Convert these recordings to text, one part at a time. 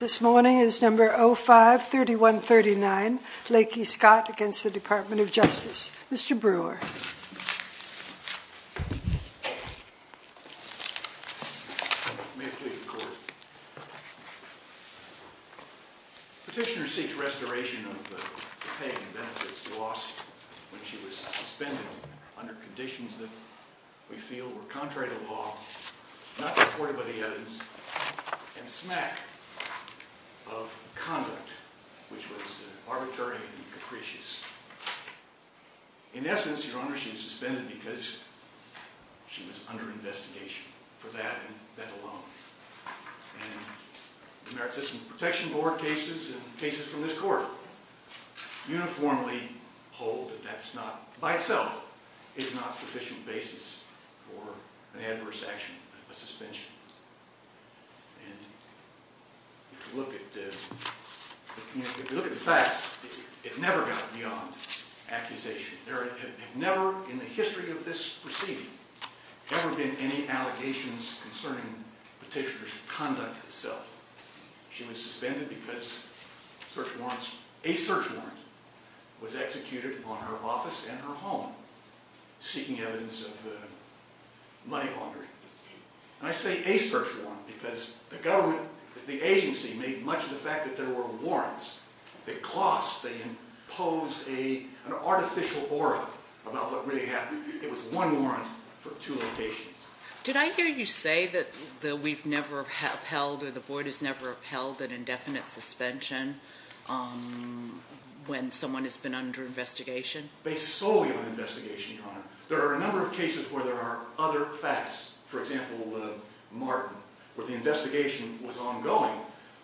This morning is No. 05-3139, Lakey-Scott v. Department of Justice. Mr. Brewer. May I please record? Petitioner seeks restoration of the pay and benefits lost when she was suspended under conditions that we feel were contrary to law, not supported by the evidence, and smack of conduct which was arbitrary and capricious. In essence, Your Honor, she was suspended because she was under investigation for that and that alone. And the Merit System Protection Board cases and cases from this court uniformly hold that that's not, by itself, is not sufficient basis for an adverse action, a suspension. And if you look at the facts, it never got beyond accusation. There have never in the history of this proceeding ever been any allegations concerning petitioner's conduct itself. She was suspended because a search warrant was executed on her office and her home, seeking evidence of money laundering. And I say a search warrant because the government, the agency, made much of the fact that there were warrants. They clasped, they imposed an artificial aura about what really happened. It was one warrant for two locations. Did I hear you say that we've never upheld or the board has never upheld an indefinite suspension when someone has been under investigation? Based solely on investigation, Your Honor. There are a number of cases where there are other facts. For example, Martin, where the investigation was ongoing,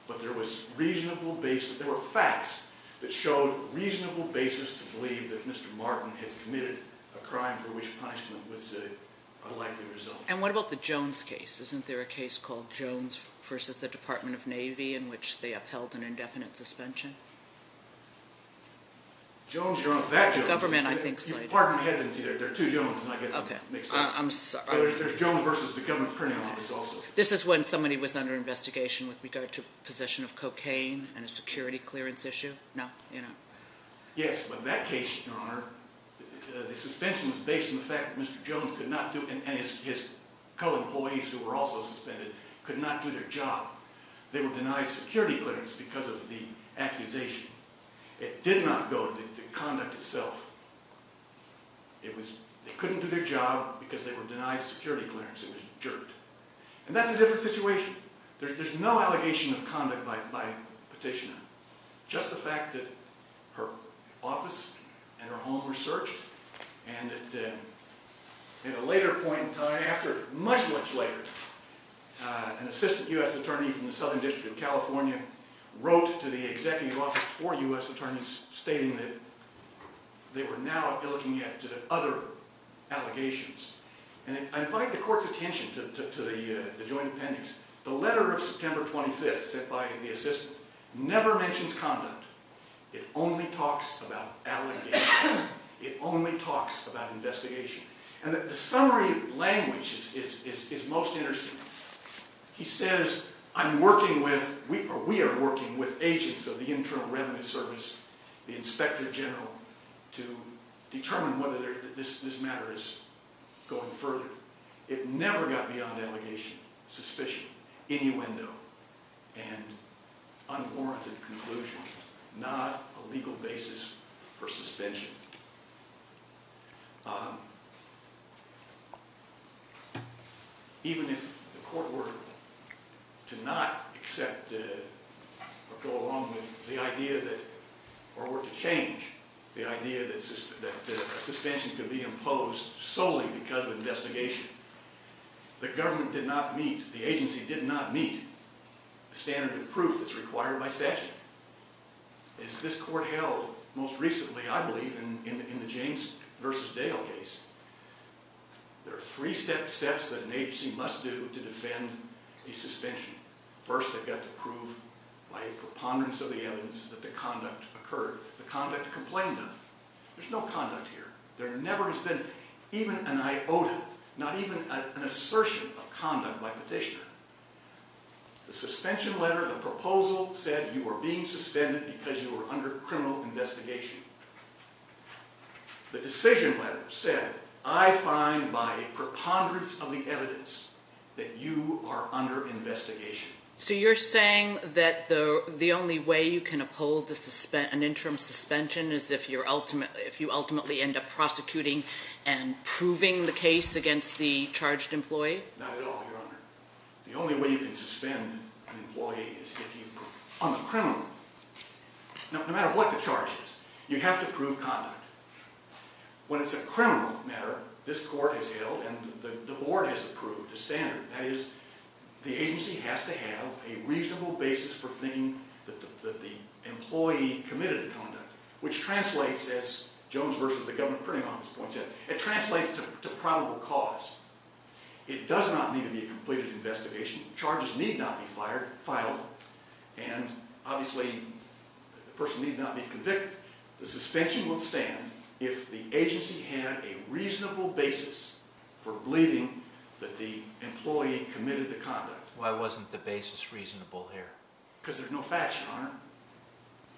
but there was reasonable basis, there were facts that showed reasonable basis to believe that Mr. Martin had committed a crime for which punishment was a likely result. And what about the Jones case? Isn't there a case called Jones versus the Department of Navy in which they upheld an indefinite suspension? Jones, Your Honor, that Jones. The government, I think, cited. Pardon my hesitancy. There are two Jones, and I get them mixed up. Okay. I'm sorry. There's Jones versus the government printing office also. This is when somebody was under investigation with regard to possession of cocaine and a security clearance issue? No? You know? Your Honor, the suspension was based on the fact that Mr. Jones could not do, and his co-employees who were also suspended, could not do their job. They were denied security clearance because of the accusation. It did not go to conduct itself. They couldn't do their job because they were denied security clearance. It was jerked. And that's a different situation. There's no allegation of conduct by petitioner. Just the fact that her office and her home were searched, and at a later point in time, after much, much later, an assistant U.S. attorney from the Southern District of California wrote to the executive office for U.S. attorneys stating that they were now looking at other allegations. And I invite the court's attention to the joint appendix. The letter of September 25th sent by the assistant never mentions conduct. It only talks about allegations. It only talks about investigation. And the summary language is most interesting. He says, I'm working with, or we are working with agents of the Internal Revenue Service, the inspector general, to determine whether this matter is going further. It never got beyond allegation, suspicion, innuendo, and unwarranted conclusion, not a legal basis for suspension. Even if the court were to not accept or go along with the idea that, or were to change the idea that a suspension could be imposed solely because of investigation, the government did not meet, the agency did not meet the standard of proof that's required by statute. As this court held most recently, I believe, in the James v. Dale case, there are three steps that an agency must do to defend a suspension. First, they've got to prove by a preponderance of the evidence that the conduct occurred, the conduct complained of. There's no conduct here. There never has been even an iota, not even an assertion of conduct by petitioner. The suspension letter, the proposal said you were being suspended because you were under criminal investigation. The decision letter said, I find by a preponderance of the evidence that you are under investigation. So you're saying that the only way you can uphold an interim suspension is if you ultimately end up prosecuting and proving the case against the charged employee? Not at all, Your Honor. The only way you can suspend an employee is if you are a criminal. Now, no matter what the charge is, you have to prove conduct. When it's a criminal matter, this court has held and the board has approved the standard. That is, the agency has to have a reasonable basis for thinking that the employee committed the conduct, which translates, as Jones v. The Government Printing Office points out, it translates to probable cause. It does not need to be a completed investigation. Charges need not be filed. And, obviously, the person need not be convicted. The suspension will stand if the agency had a reasonable basis for believing that the employee committed the conduct. Why wasn't the basis reasonable here? Because there's no facts, Your Honor.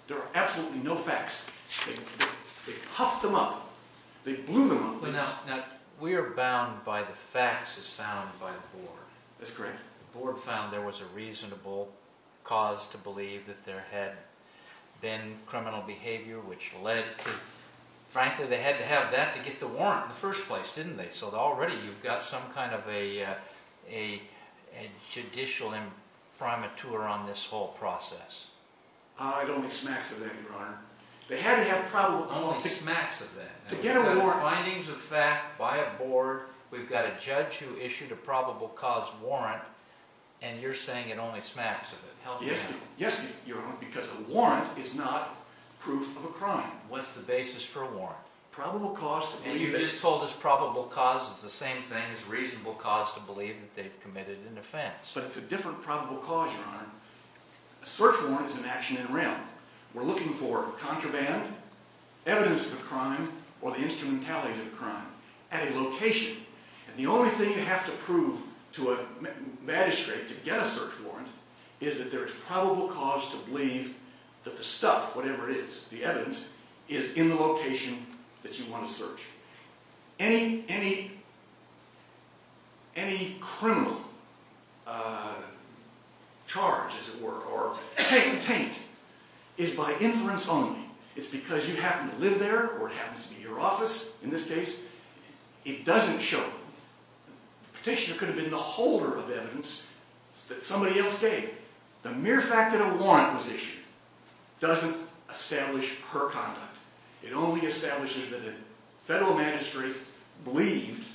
There are absolutely no facts. They puffed them up. They blew them up. Now, we are bound by the facts as found by the board. That's correct. The board found there was a reasonable cause to believe that there had been criminal behavior, which led to... Frankly, they had to have that to get the warrant in the first place, didn't they? So, already, you've got some kind of a judicial imprimatur on this whole process. Ah, it only smacks of that, Your Honor. They had to have probable... Only smacks of that. To get a warrant... We've got findings of fact by a board. We've got a judge who issued a probable cause warrant, and you're saying it only smacks of it. Yes, Your Honor, because a warrant is not proof of a crime. What's the basis for a warrant? Probable cause to believe that... And you just told us probable cause is the same thing as reasonable cause to believe that they've committed an offense. But it's a different probable cause, Your Honor. A search warrant is an action in real. We're looking for contraband, evidence of a crime, or the instrumentality of a crime at a location, and the only thing you have to prove to a magistrate to get a search warrant is that there is probable cause to believe that the stuff, whatever it is, the evidence, is in the location that you want to search. Any criminal charge, as it were, or taint, is by inference only. It's because you happen to live there, or it happens to be your office, in this case. It doesn't show. The petitioner could have been the holder of evidence that somebody else gave. The mere fact that a warrant was issued doesn't establish her conduct. It only establishes that a federal magistrate believed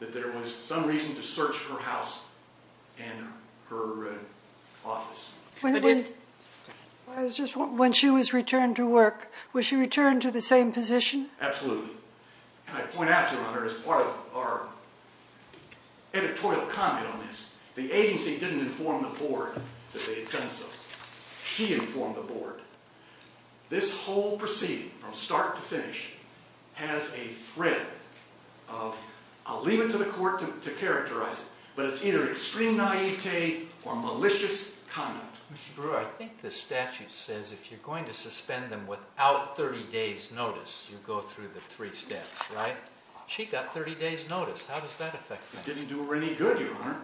that there was some reason to search her house and her office. When she was returned to work, was she returned to the same position? Absolutely. And I point out, Your Honor, as part of our editorial comment on this, the agency didn't inform the board that they had done so. She informed the board. This whole proceeding, from start to finish, has a thread of, I'll leave it to the court to characterize it, but it's either extreme naivete or malicious conduct. Mr. Brewer, I think the statute says if you're going to suspend them without 30 days' notice, you go through the three steps, right? She got 30 days' notice. How does that affect things? It didn't do her any good, Your Honor,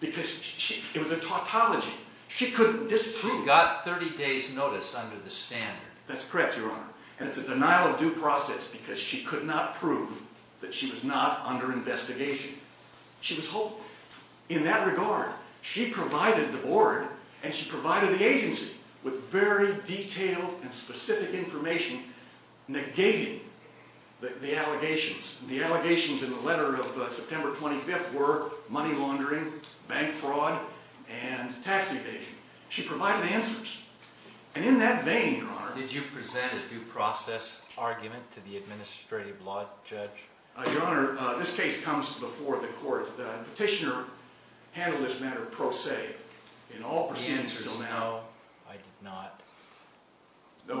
because it was a tautology. She couldn't disprove it. But she got 30 days' notice under the standard. That's correct, Your Honor. And it's a denial of due process because she could not prove that she was not under investigation. She was hopeful. In that regard, she provided the board, and she provided the agency, with very detailed and specific information negating the allegations. The allegations in the letter of September 25th were money laundering, bank fraud, and tax evasion. She provided answers. And in that vein, Your Honor. Did you present a due process argument to the administrative law judge? Your Honor, this case comes before the court. The petitioner handled this matter pro se in all proceedings until now. The answer is no, I did not.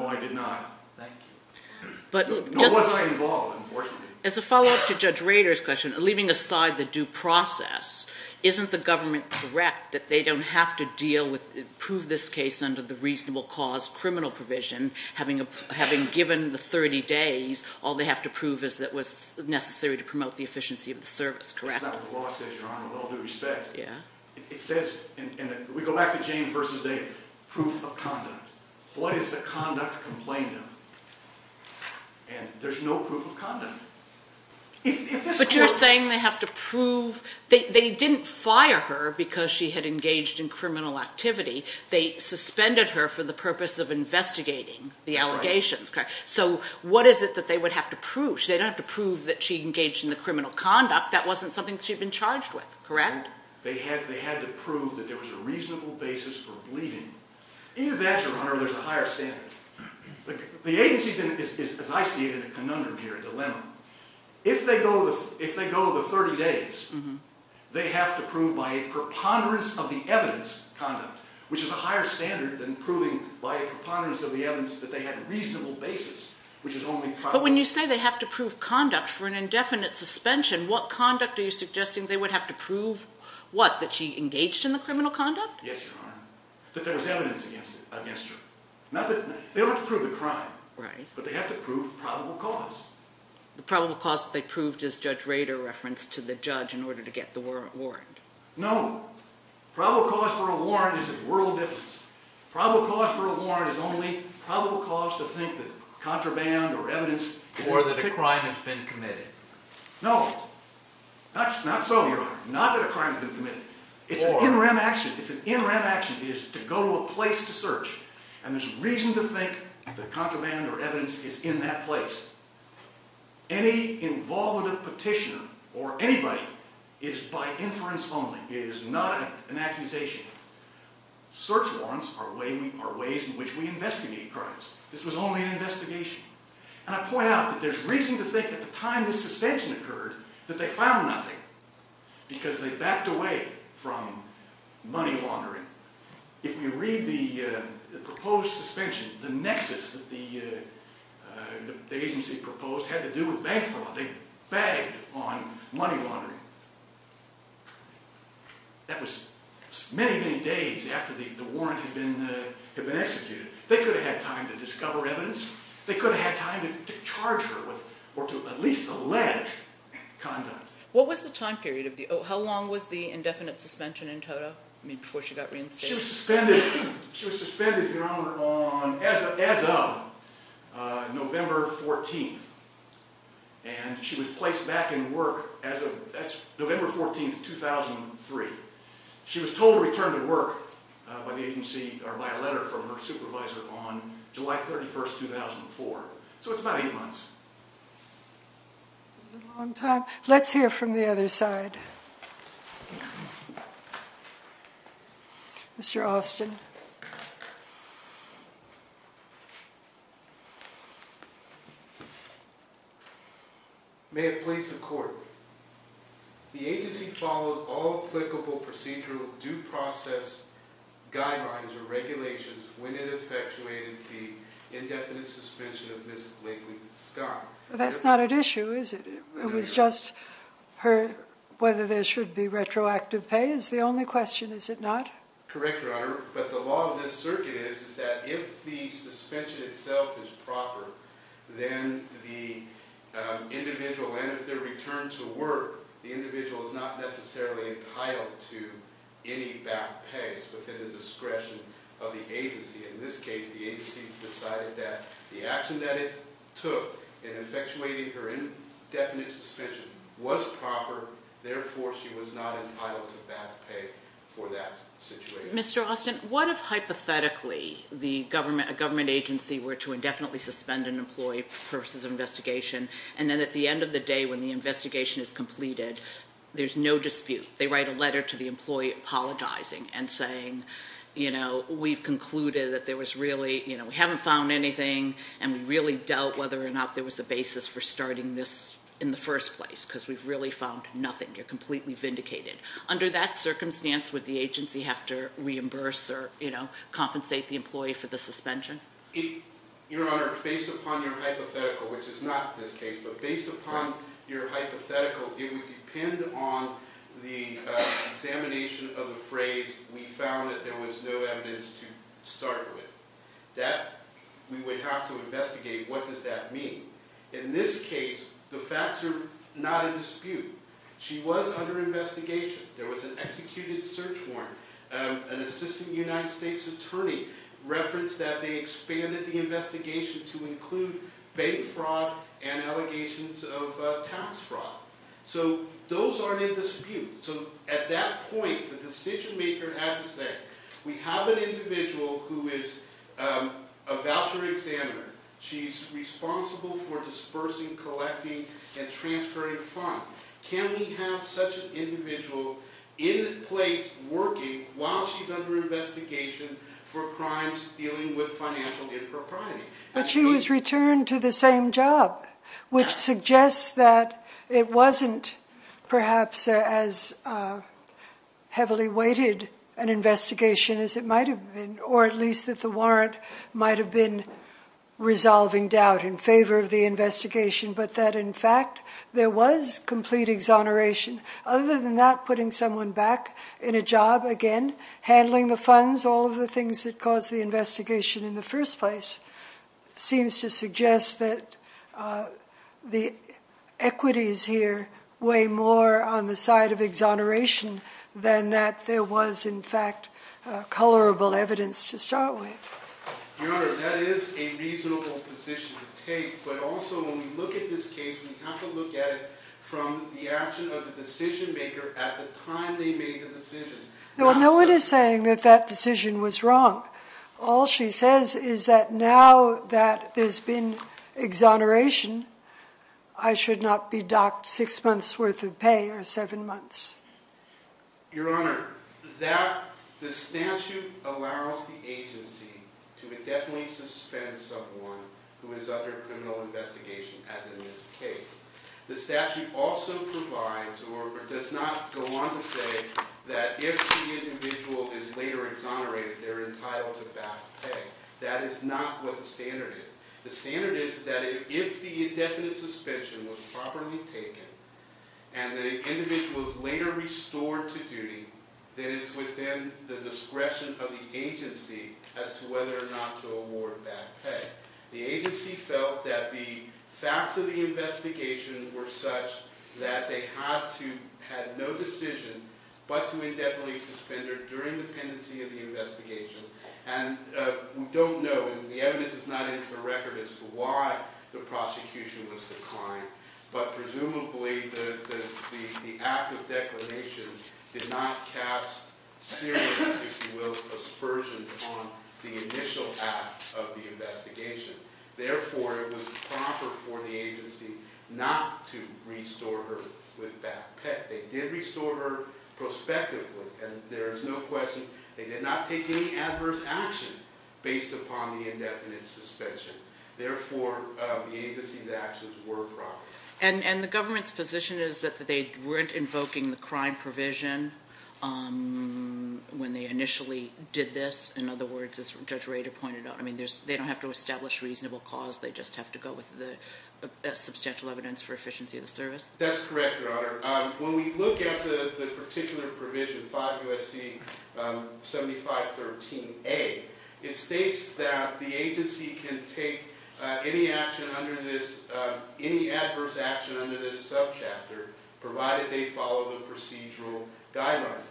No, I did not. Thank you. No, I wasn't involved, unfortunately. As a follow-up to Judge Rader's question, leaving aside the due process, isn't the government correct that they don't have to prove this case under the reasonable cause criminal provision, having given the 30 days, all they have to prove is that it was necessary to promote the efficiency of the service, correct? That's not what the law says, Your Honor, with all due respect. It says, and we go back to James versus David, proof of conduct. What does the conduct complain of? And there's no proof of conduct. But you're saying they have to prove they didn't fire her because she had engaged in criminal activity. They suspended her for the purpose of investigating the allegations, correct? So what is it that they would have to prove? They don't have to prove that she engaged in the criminal conduct. That wasn't something she had been charged with, correct? They had to prove that there was a reasonable basis for believing. Either that, Your Honor, or there's a higher standard. The agency is, as I see it, in a conundrum here, a dilemma. If they go to the 30 days, they have to prove by a preponderance of the evidence conduct, which is a higher standard than proving by a preponderance of the evidence that they had a reasonable basis, which is only probable. But when you say they have to prove conduct for an indefinite suspension, what conduct are you suggesting they would have to prove, what, that she engaged in the criminal conduct? Yes, Your Honor, that there was evidence against her. They don't have to prove the crime. Right. But they have to prove probable cause. The probable cause that they proved is Judge Rader referenced to the judge in order to get the warrant. No. Probable cause for a warrant is a world difference. Probable cause for a warrant is only probable cause to think that contraband or evidence is not true. Or that a crime has been committed. No. Not so, Your Honor. Not that a crime has been committed. It's an in rem action. It's an in rem action. It is to go to a place to search. And there's reason to think that contraband or evidence is in that place. Any involvement of petitioner or anybody is by inference only. It is not an accusation. Search warrants are ways in which we investigate crimes. This was only an investigation. And I point out that there's reason to think at the time this suspension occurred that they found nothing because they backed away from money laundering. If you read the proposed suspension, the nexus that the agency proposed had to do with bank fraud. They bagged on money laundering. That was many, many days after the warrant had been executed. They could have had time to discover evidence. They could have had time to charge her with or to at least allege conduct. What was the time period? How long was the indefinite suspension in total before she got reinstated? She was suspended, Your Honor, as of November 14th. And she was placed back in work as of November 14th, 2003. She was told to return to work by a letter from her supervisor on July 31st, 2004. So it's about eight months. It was a long time. Let's hear from the other side. Mr. Austin. May it please the Court, the agency followed all applicable procedural due process guidelines or regulations when it effectuated the indefinite suspension of Ms. Lately Scott. That's not at issue, is it? It was just whether there should be retroactive pay is the only question, is it not? Correct, Your Honor. But the law of this circuit is that if the suspension itself is proper, then the individual, and if they're returned to work, the individual is not necessarily entitled to any back pay. It's within the discretion of the agency. In this case, the agency decided that the action that it took in effectuating her indefinite suspension was proper. Therefore, she was not entitled to back pay for that situation. Mr. Austin, what if hypothetically the government agency were to indefinitely suspend an employee for purposes of investigation, and then at the end of the day when the investigation is completed, there's no dispute. They write a letter to the employee apologizing and saying, we've concluded that there was really, we haven't found anything, and we really dealt whether or not there was a basis for starting this in the first place, because we've really found nothing. You're completely vindicated. Under that circumstance, would the agency have to reimburse or compensate the employee for the suspension? Your Honor, based upon your hypothetical, which is not this case, but based upon your hypothetical, it would depend on the examination of the phrase, we found that there was no evidence to start with. That, we would have to investigate what does that mean. In this case, the facts are not in dispute. She was under investigation. There was an executed search warrant. An assistant United States attorney referenced that they expanded the investigation to include bank fraud and allegations of tax fraud. So, those aren't in dispute. So, at that point, the decision maker has to say, we have an individual who is a voucher examiner. She's responsible for dispersing, collecting, and transferring funds. Can we have such an individual in place working while she's under investigation for crimes dealing with financial impropriety? But she was returned to the same job, which suggests that it wasn't perhaps as heavily weighted an investigation as it might have been, or at least that the warrant might have been resolving doubt in favor of the investigation, but that, in fact, there was complete exoneration. Other than that, putting someone back in a job, again, handling the funds, all of the things that caused the investigation in the first place, seems to suggest that the equities here weigh more on the side of exoneration than that there was, in fact, colorable evidence to start with. Your Honor, that is a reasonable position to take. But also, when we look at this case, we have to look at it from the action of the decision maker at the time they made the decision. No one is saying that that decision was wrong. All she says is that now that there's been exoneration, I should not be docked six months' worth of pay or seven months. Your Honor, the statute allows the agency to indefinitely suspend someone who is under criminal investigation, as in this case. The statute also provides or does not go on to say that if the individual is later exonerated, they're entitled to back pay. That is not what the standard is. The standard is that if the indefinite suspension was properly taken and the individual is later restored to duty, then it's within the discretion of the agency as to whether or not to award back pay. The agency felt that the facts of the investigation were such that they had no decision but to indefinitely suspend her during the pendency of the investigation. And we don't know, and the evidence is not in the record, as to why the prosecution was declined. But presumably, the act of declination did not cast serious, if you will, aspersions on the initial act of the investigation. Therefore, it was proper for the agency not to restore her with back pay. They did restore her prospectively. And there is no question they did not take any adverse action based upon the indefinite suspension. Therefore, the agency's actions were proper. And the government's position is that they weren't invoking the crime provision when they initially did this? In other words, as Judge Rader pointed out, I mean, they don't have to establish reasonable cause. They just have to go with the substantial evidence for efficiency of the service? That's correct, Your Honor. When we look at the particular provision, 5 U.S.C. 7513A, it states that the agency can take any adverse action under this subchapter provided they follow the procedural guidelines.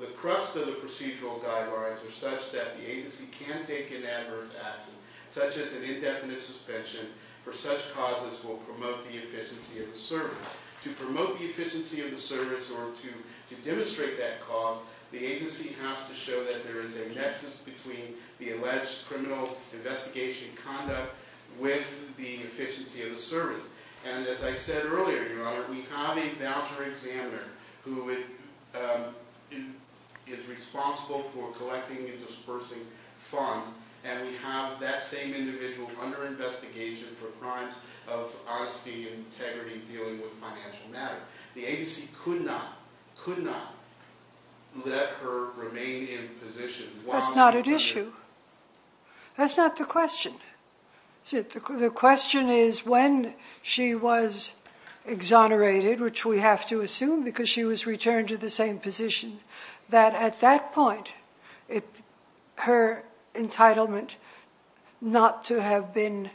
The crux of the procedural guidelines are such that the agency can take an adverse action, such as an indefinite suspension, for such causes will promote the efficiency of the service. To promote the efficiency of the service or to demonstrate that cause, the agency has to show that there is a nexus between the alleged criminal investigation conduct with the efficiency of the service. And as I said earlier, Your Honor, we have a voucher examiner who is responsible for collecting and dispersing funds. And we have that same individual under investigation for crimes of honesty and integrity dealing with financial matters. The agency could not, could not, let her remain in position. That's not at issue. That's not the question. The question is when she was exonerated, which we have to assume because she was returned to the same position, that at that point, her entitlement not to have been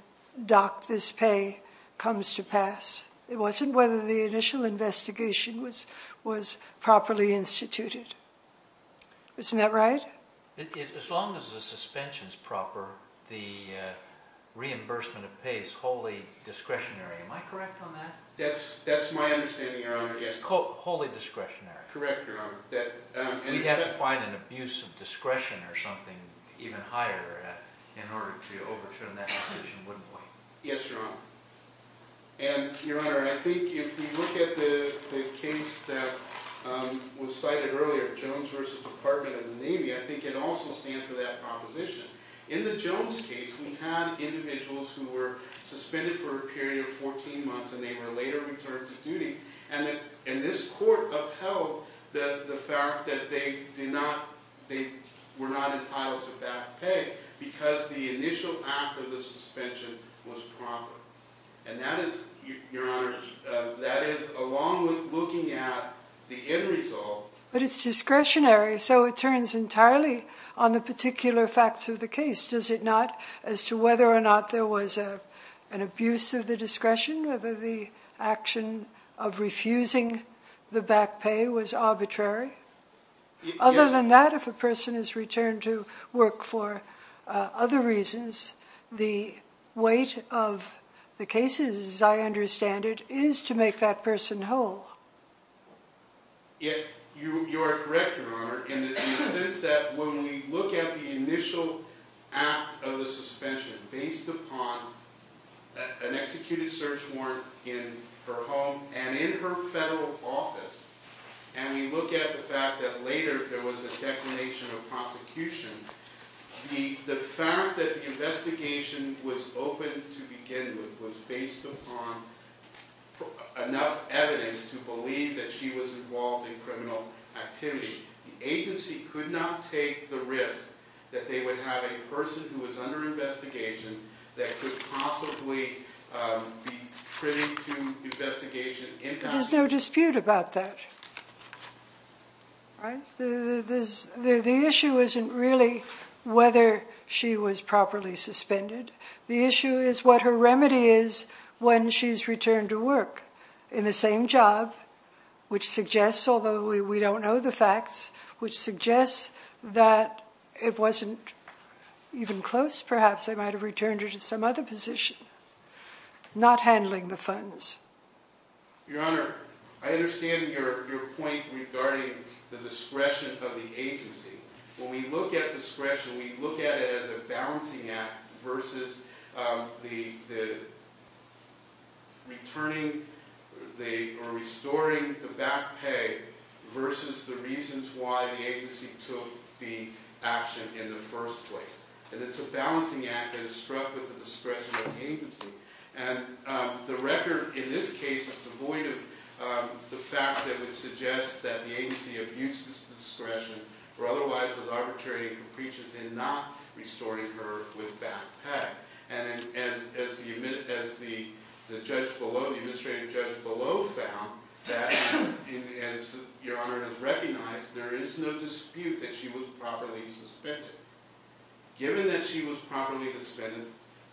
docked this pay comes to pass. It wasn't whether the initial investigation was properly instituted. Isn't that right? As long as the suspension is proper, the reimbursement of pay is wholly discretionary. Am I correct on that? That's my understanding, Your Honor. It's wholly discretionary. Correct, Your Honor. We'd have to find an abuse of discretion or something even higher in order to overturn that decision, wouldn't we? Yes, Your Honor. And, Your Honor, I think if you look at the case that was cited earlier, Jones v. Department of the Navy, I think it also stands for that proposition. In the Jones case, we had individuals who were suspended for a period of 14 months and they were later returned to duty. And this court upheld the fact that they were not entitled to back pay because the initial act of the suspension was proper. And that is, Your Honor, that is along with looking at the end result. But it's discretionary, so it turns entirely on the particular facts of the case, does it not? As to whether or not there was an abuse of the discretion, whether the action of refusing the back pay was arbitrary. Other than that, if a person is returned to work for other reasons, the weight of the case, as I understand it, is to make that person whole. You are correct, Your Honor, in the sense that when we look at the initial act of the suspension based upon an executed search warrant in her home and in her federal office, and we look at the fact that later there was a declination of prosecution, the fact that the investigation was open to begin with was based upon enough evidence to believe that she was involved in criminal activity. The agency could not take the risk that they would have a person who was under investigation that could possibly be printed to investigation. There's no dispute about that, right? The issue isn't really whether she was properly suspended. The issue is what her remedy is when she's returned to work in the same job, which suggests, although we don't know the facts, which suggests that it wasn't even close, perhaps they might have returned her to some other position, not handling the funds. Your Honor, I understand your point regarding the discretion of the agency. When we look at discretion, we look at it as a balancing act versus the returning or restoring the back pay versus the reasons why the agency took the action in the first place. And it's a balancing act that is struck with the discretion of the agency. And the record in this case is devoid of the fact that it suggests that the agency abused its discretion or otherwise was arbitrary and capricious in not restoring her with back pay. And as the judge below, the administrative judge below, found that, as Your Honor has recognized, there is no dispute that she was properly suspended. Given that she was properly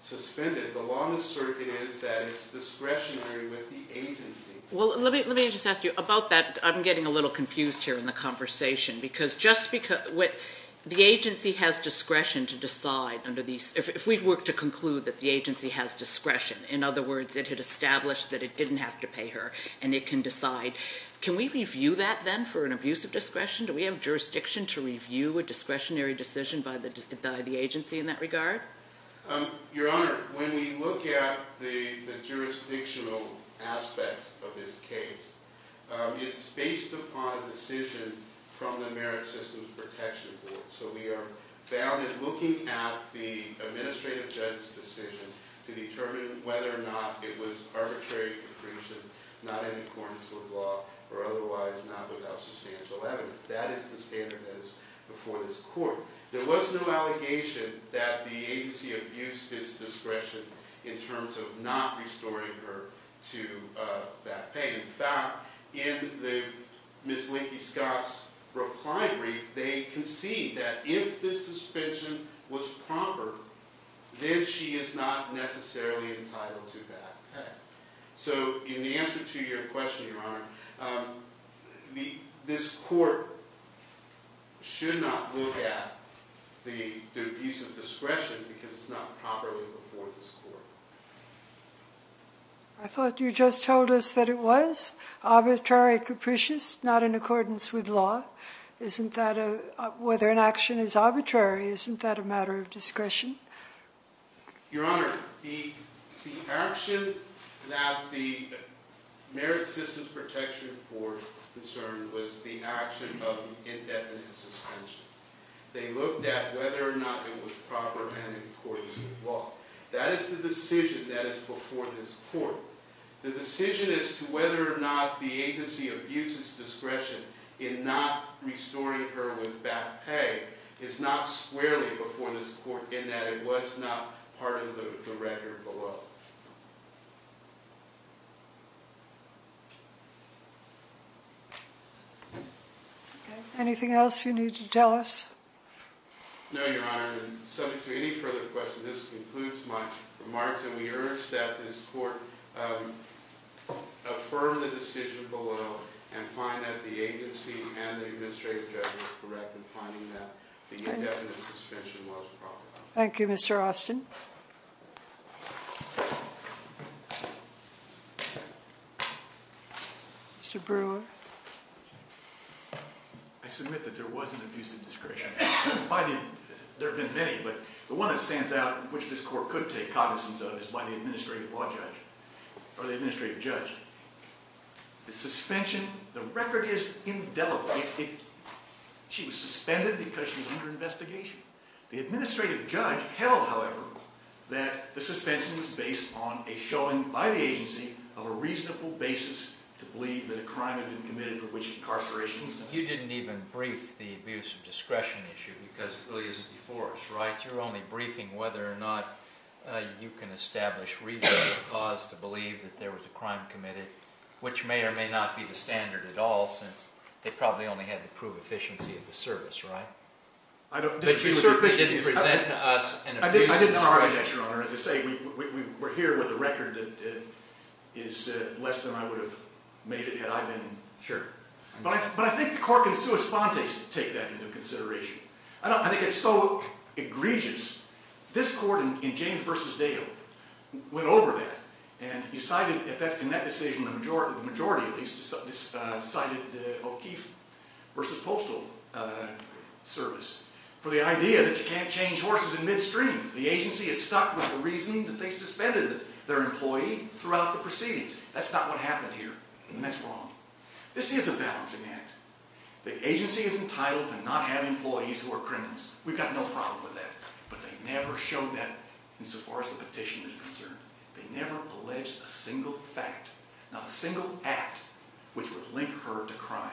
suspended, the law in this circuit is that it's discretionary with the agency. Well, let me just ask you about that. I'm getting a little confused here in the conversation because just because the agency has discretion to decide under these, if we work to conclude that the agency has discretion, in other words, it had established that it didn't have to pay her and it can decide. Can we review that then for an abuse of discretion? Do we have jurisdiction to review a discretionary decision by the agency in that regard? Your Honor, when we look at the jurisdictional aspects of this case, it's based upon a decision from the Merit Systems Protection Board. So we are looking at the administrative judge's decision to determine whether or not it was arbitrary, capricious, not in accordance with law, or otherwise not without substantial evidence. That is the standard that is before this court. There was no allegation that the agency abused its discretion in terms of not restoring her to back pay. In fact, in Ms. Lincoln-Scott's reply brief, they concede that if this suspension was proper, then she is not necessarily entitled to back pay. So in answer to your question, Your Honor, this court should not look at the abuse of discretion because it's not properly before this court. I thought you just told us that it was arbitrary, capricious, not in accordance with law. Whether an action is arbitrary, isn't that a matter of discretion? Your Honor, the action that the Merit Systems Protection Board concerned was the action of indefinite suspension. They looked at whether or not it was proper and in accordance with law. That is the decision that is before this court. The decision as to whether or not the agency abuses discretion in not restoring her with back pay is not squarely before this court in that it was not part of the record below. Anything else you need to tell us? No, Your Honor. Subject to any further questions, this concludes my remarks. And we urge that this court affirm the decision below and find that the agency and the administrative judge were correct in finding that the indefinite suspension was proper. Thank you, Mr. Austin. Mr. Brewer. I submit that there was an abuse of discretion. There have been many, but the one that stands out and which this court could take cognizance of is by the administrative judge. The suspension, the record is indelible. She was suspended because she was under investigation. The administrative judge held, however, that the suspension was based on a showing by the agency of a reasonable basis to believe that a crime had been committed for which incarceration was not. You didn't even brief the abuse of discretion issue because it really isn't before us, right? You're only briefing whether or not you can establish reasonable cause to believe that there was a crime committed, which may or may not be the standard at all since they probably only had to prove efficiency of the service, right? But she certainly didn't present to us an abuse of discretion. I did not write that, Your Honor. As I say, we're here with a record that is less than I would have made it had I been. Sure. But I think the court can take that into consideration. I think it's so egregious. This court in James v. Dale went over that and decided in that decision, the majority at least, decided O'Keefe v. Postal Service for the idea that you can't change horses in midstream. The agency is stuck with the reasoning that they suspended their employee throughout the proceedings. That's not what happened here, and that's wrong. This is a balancing act. The agency is entitled to not have employees who are criminals. We've got no problem with that. But they never showed that insofar as the petition is concerned. They never alleged a single fact, not a single act, which would link her to crime.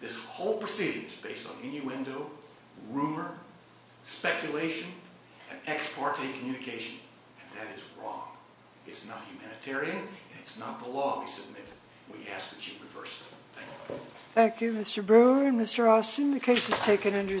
This whole proceeding is based on innuendo, rumor, speculation, and ex parte communication, and that is wrong. It's not humanitarian, and it's not the law we submitted. We ask that you reverse it. Thank you. Thank you, Mr. Brewer and Mr. Austin. The case is taken under submission.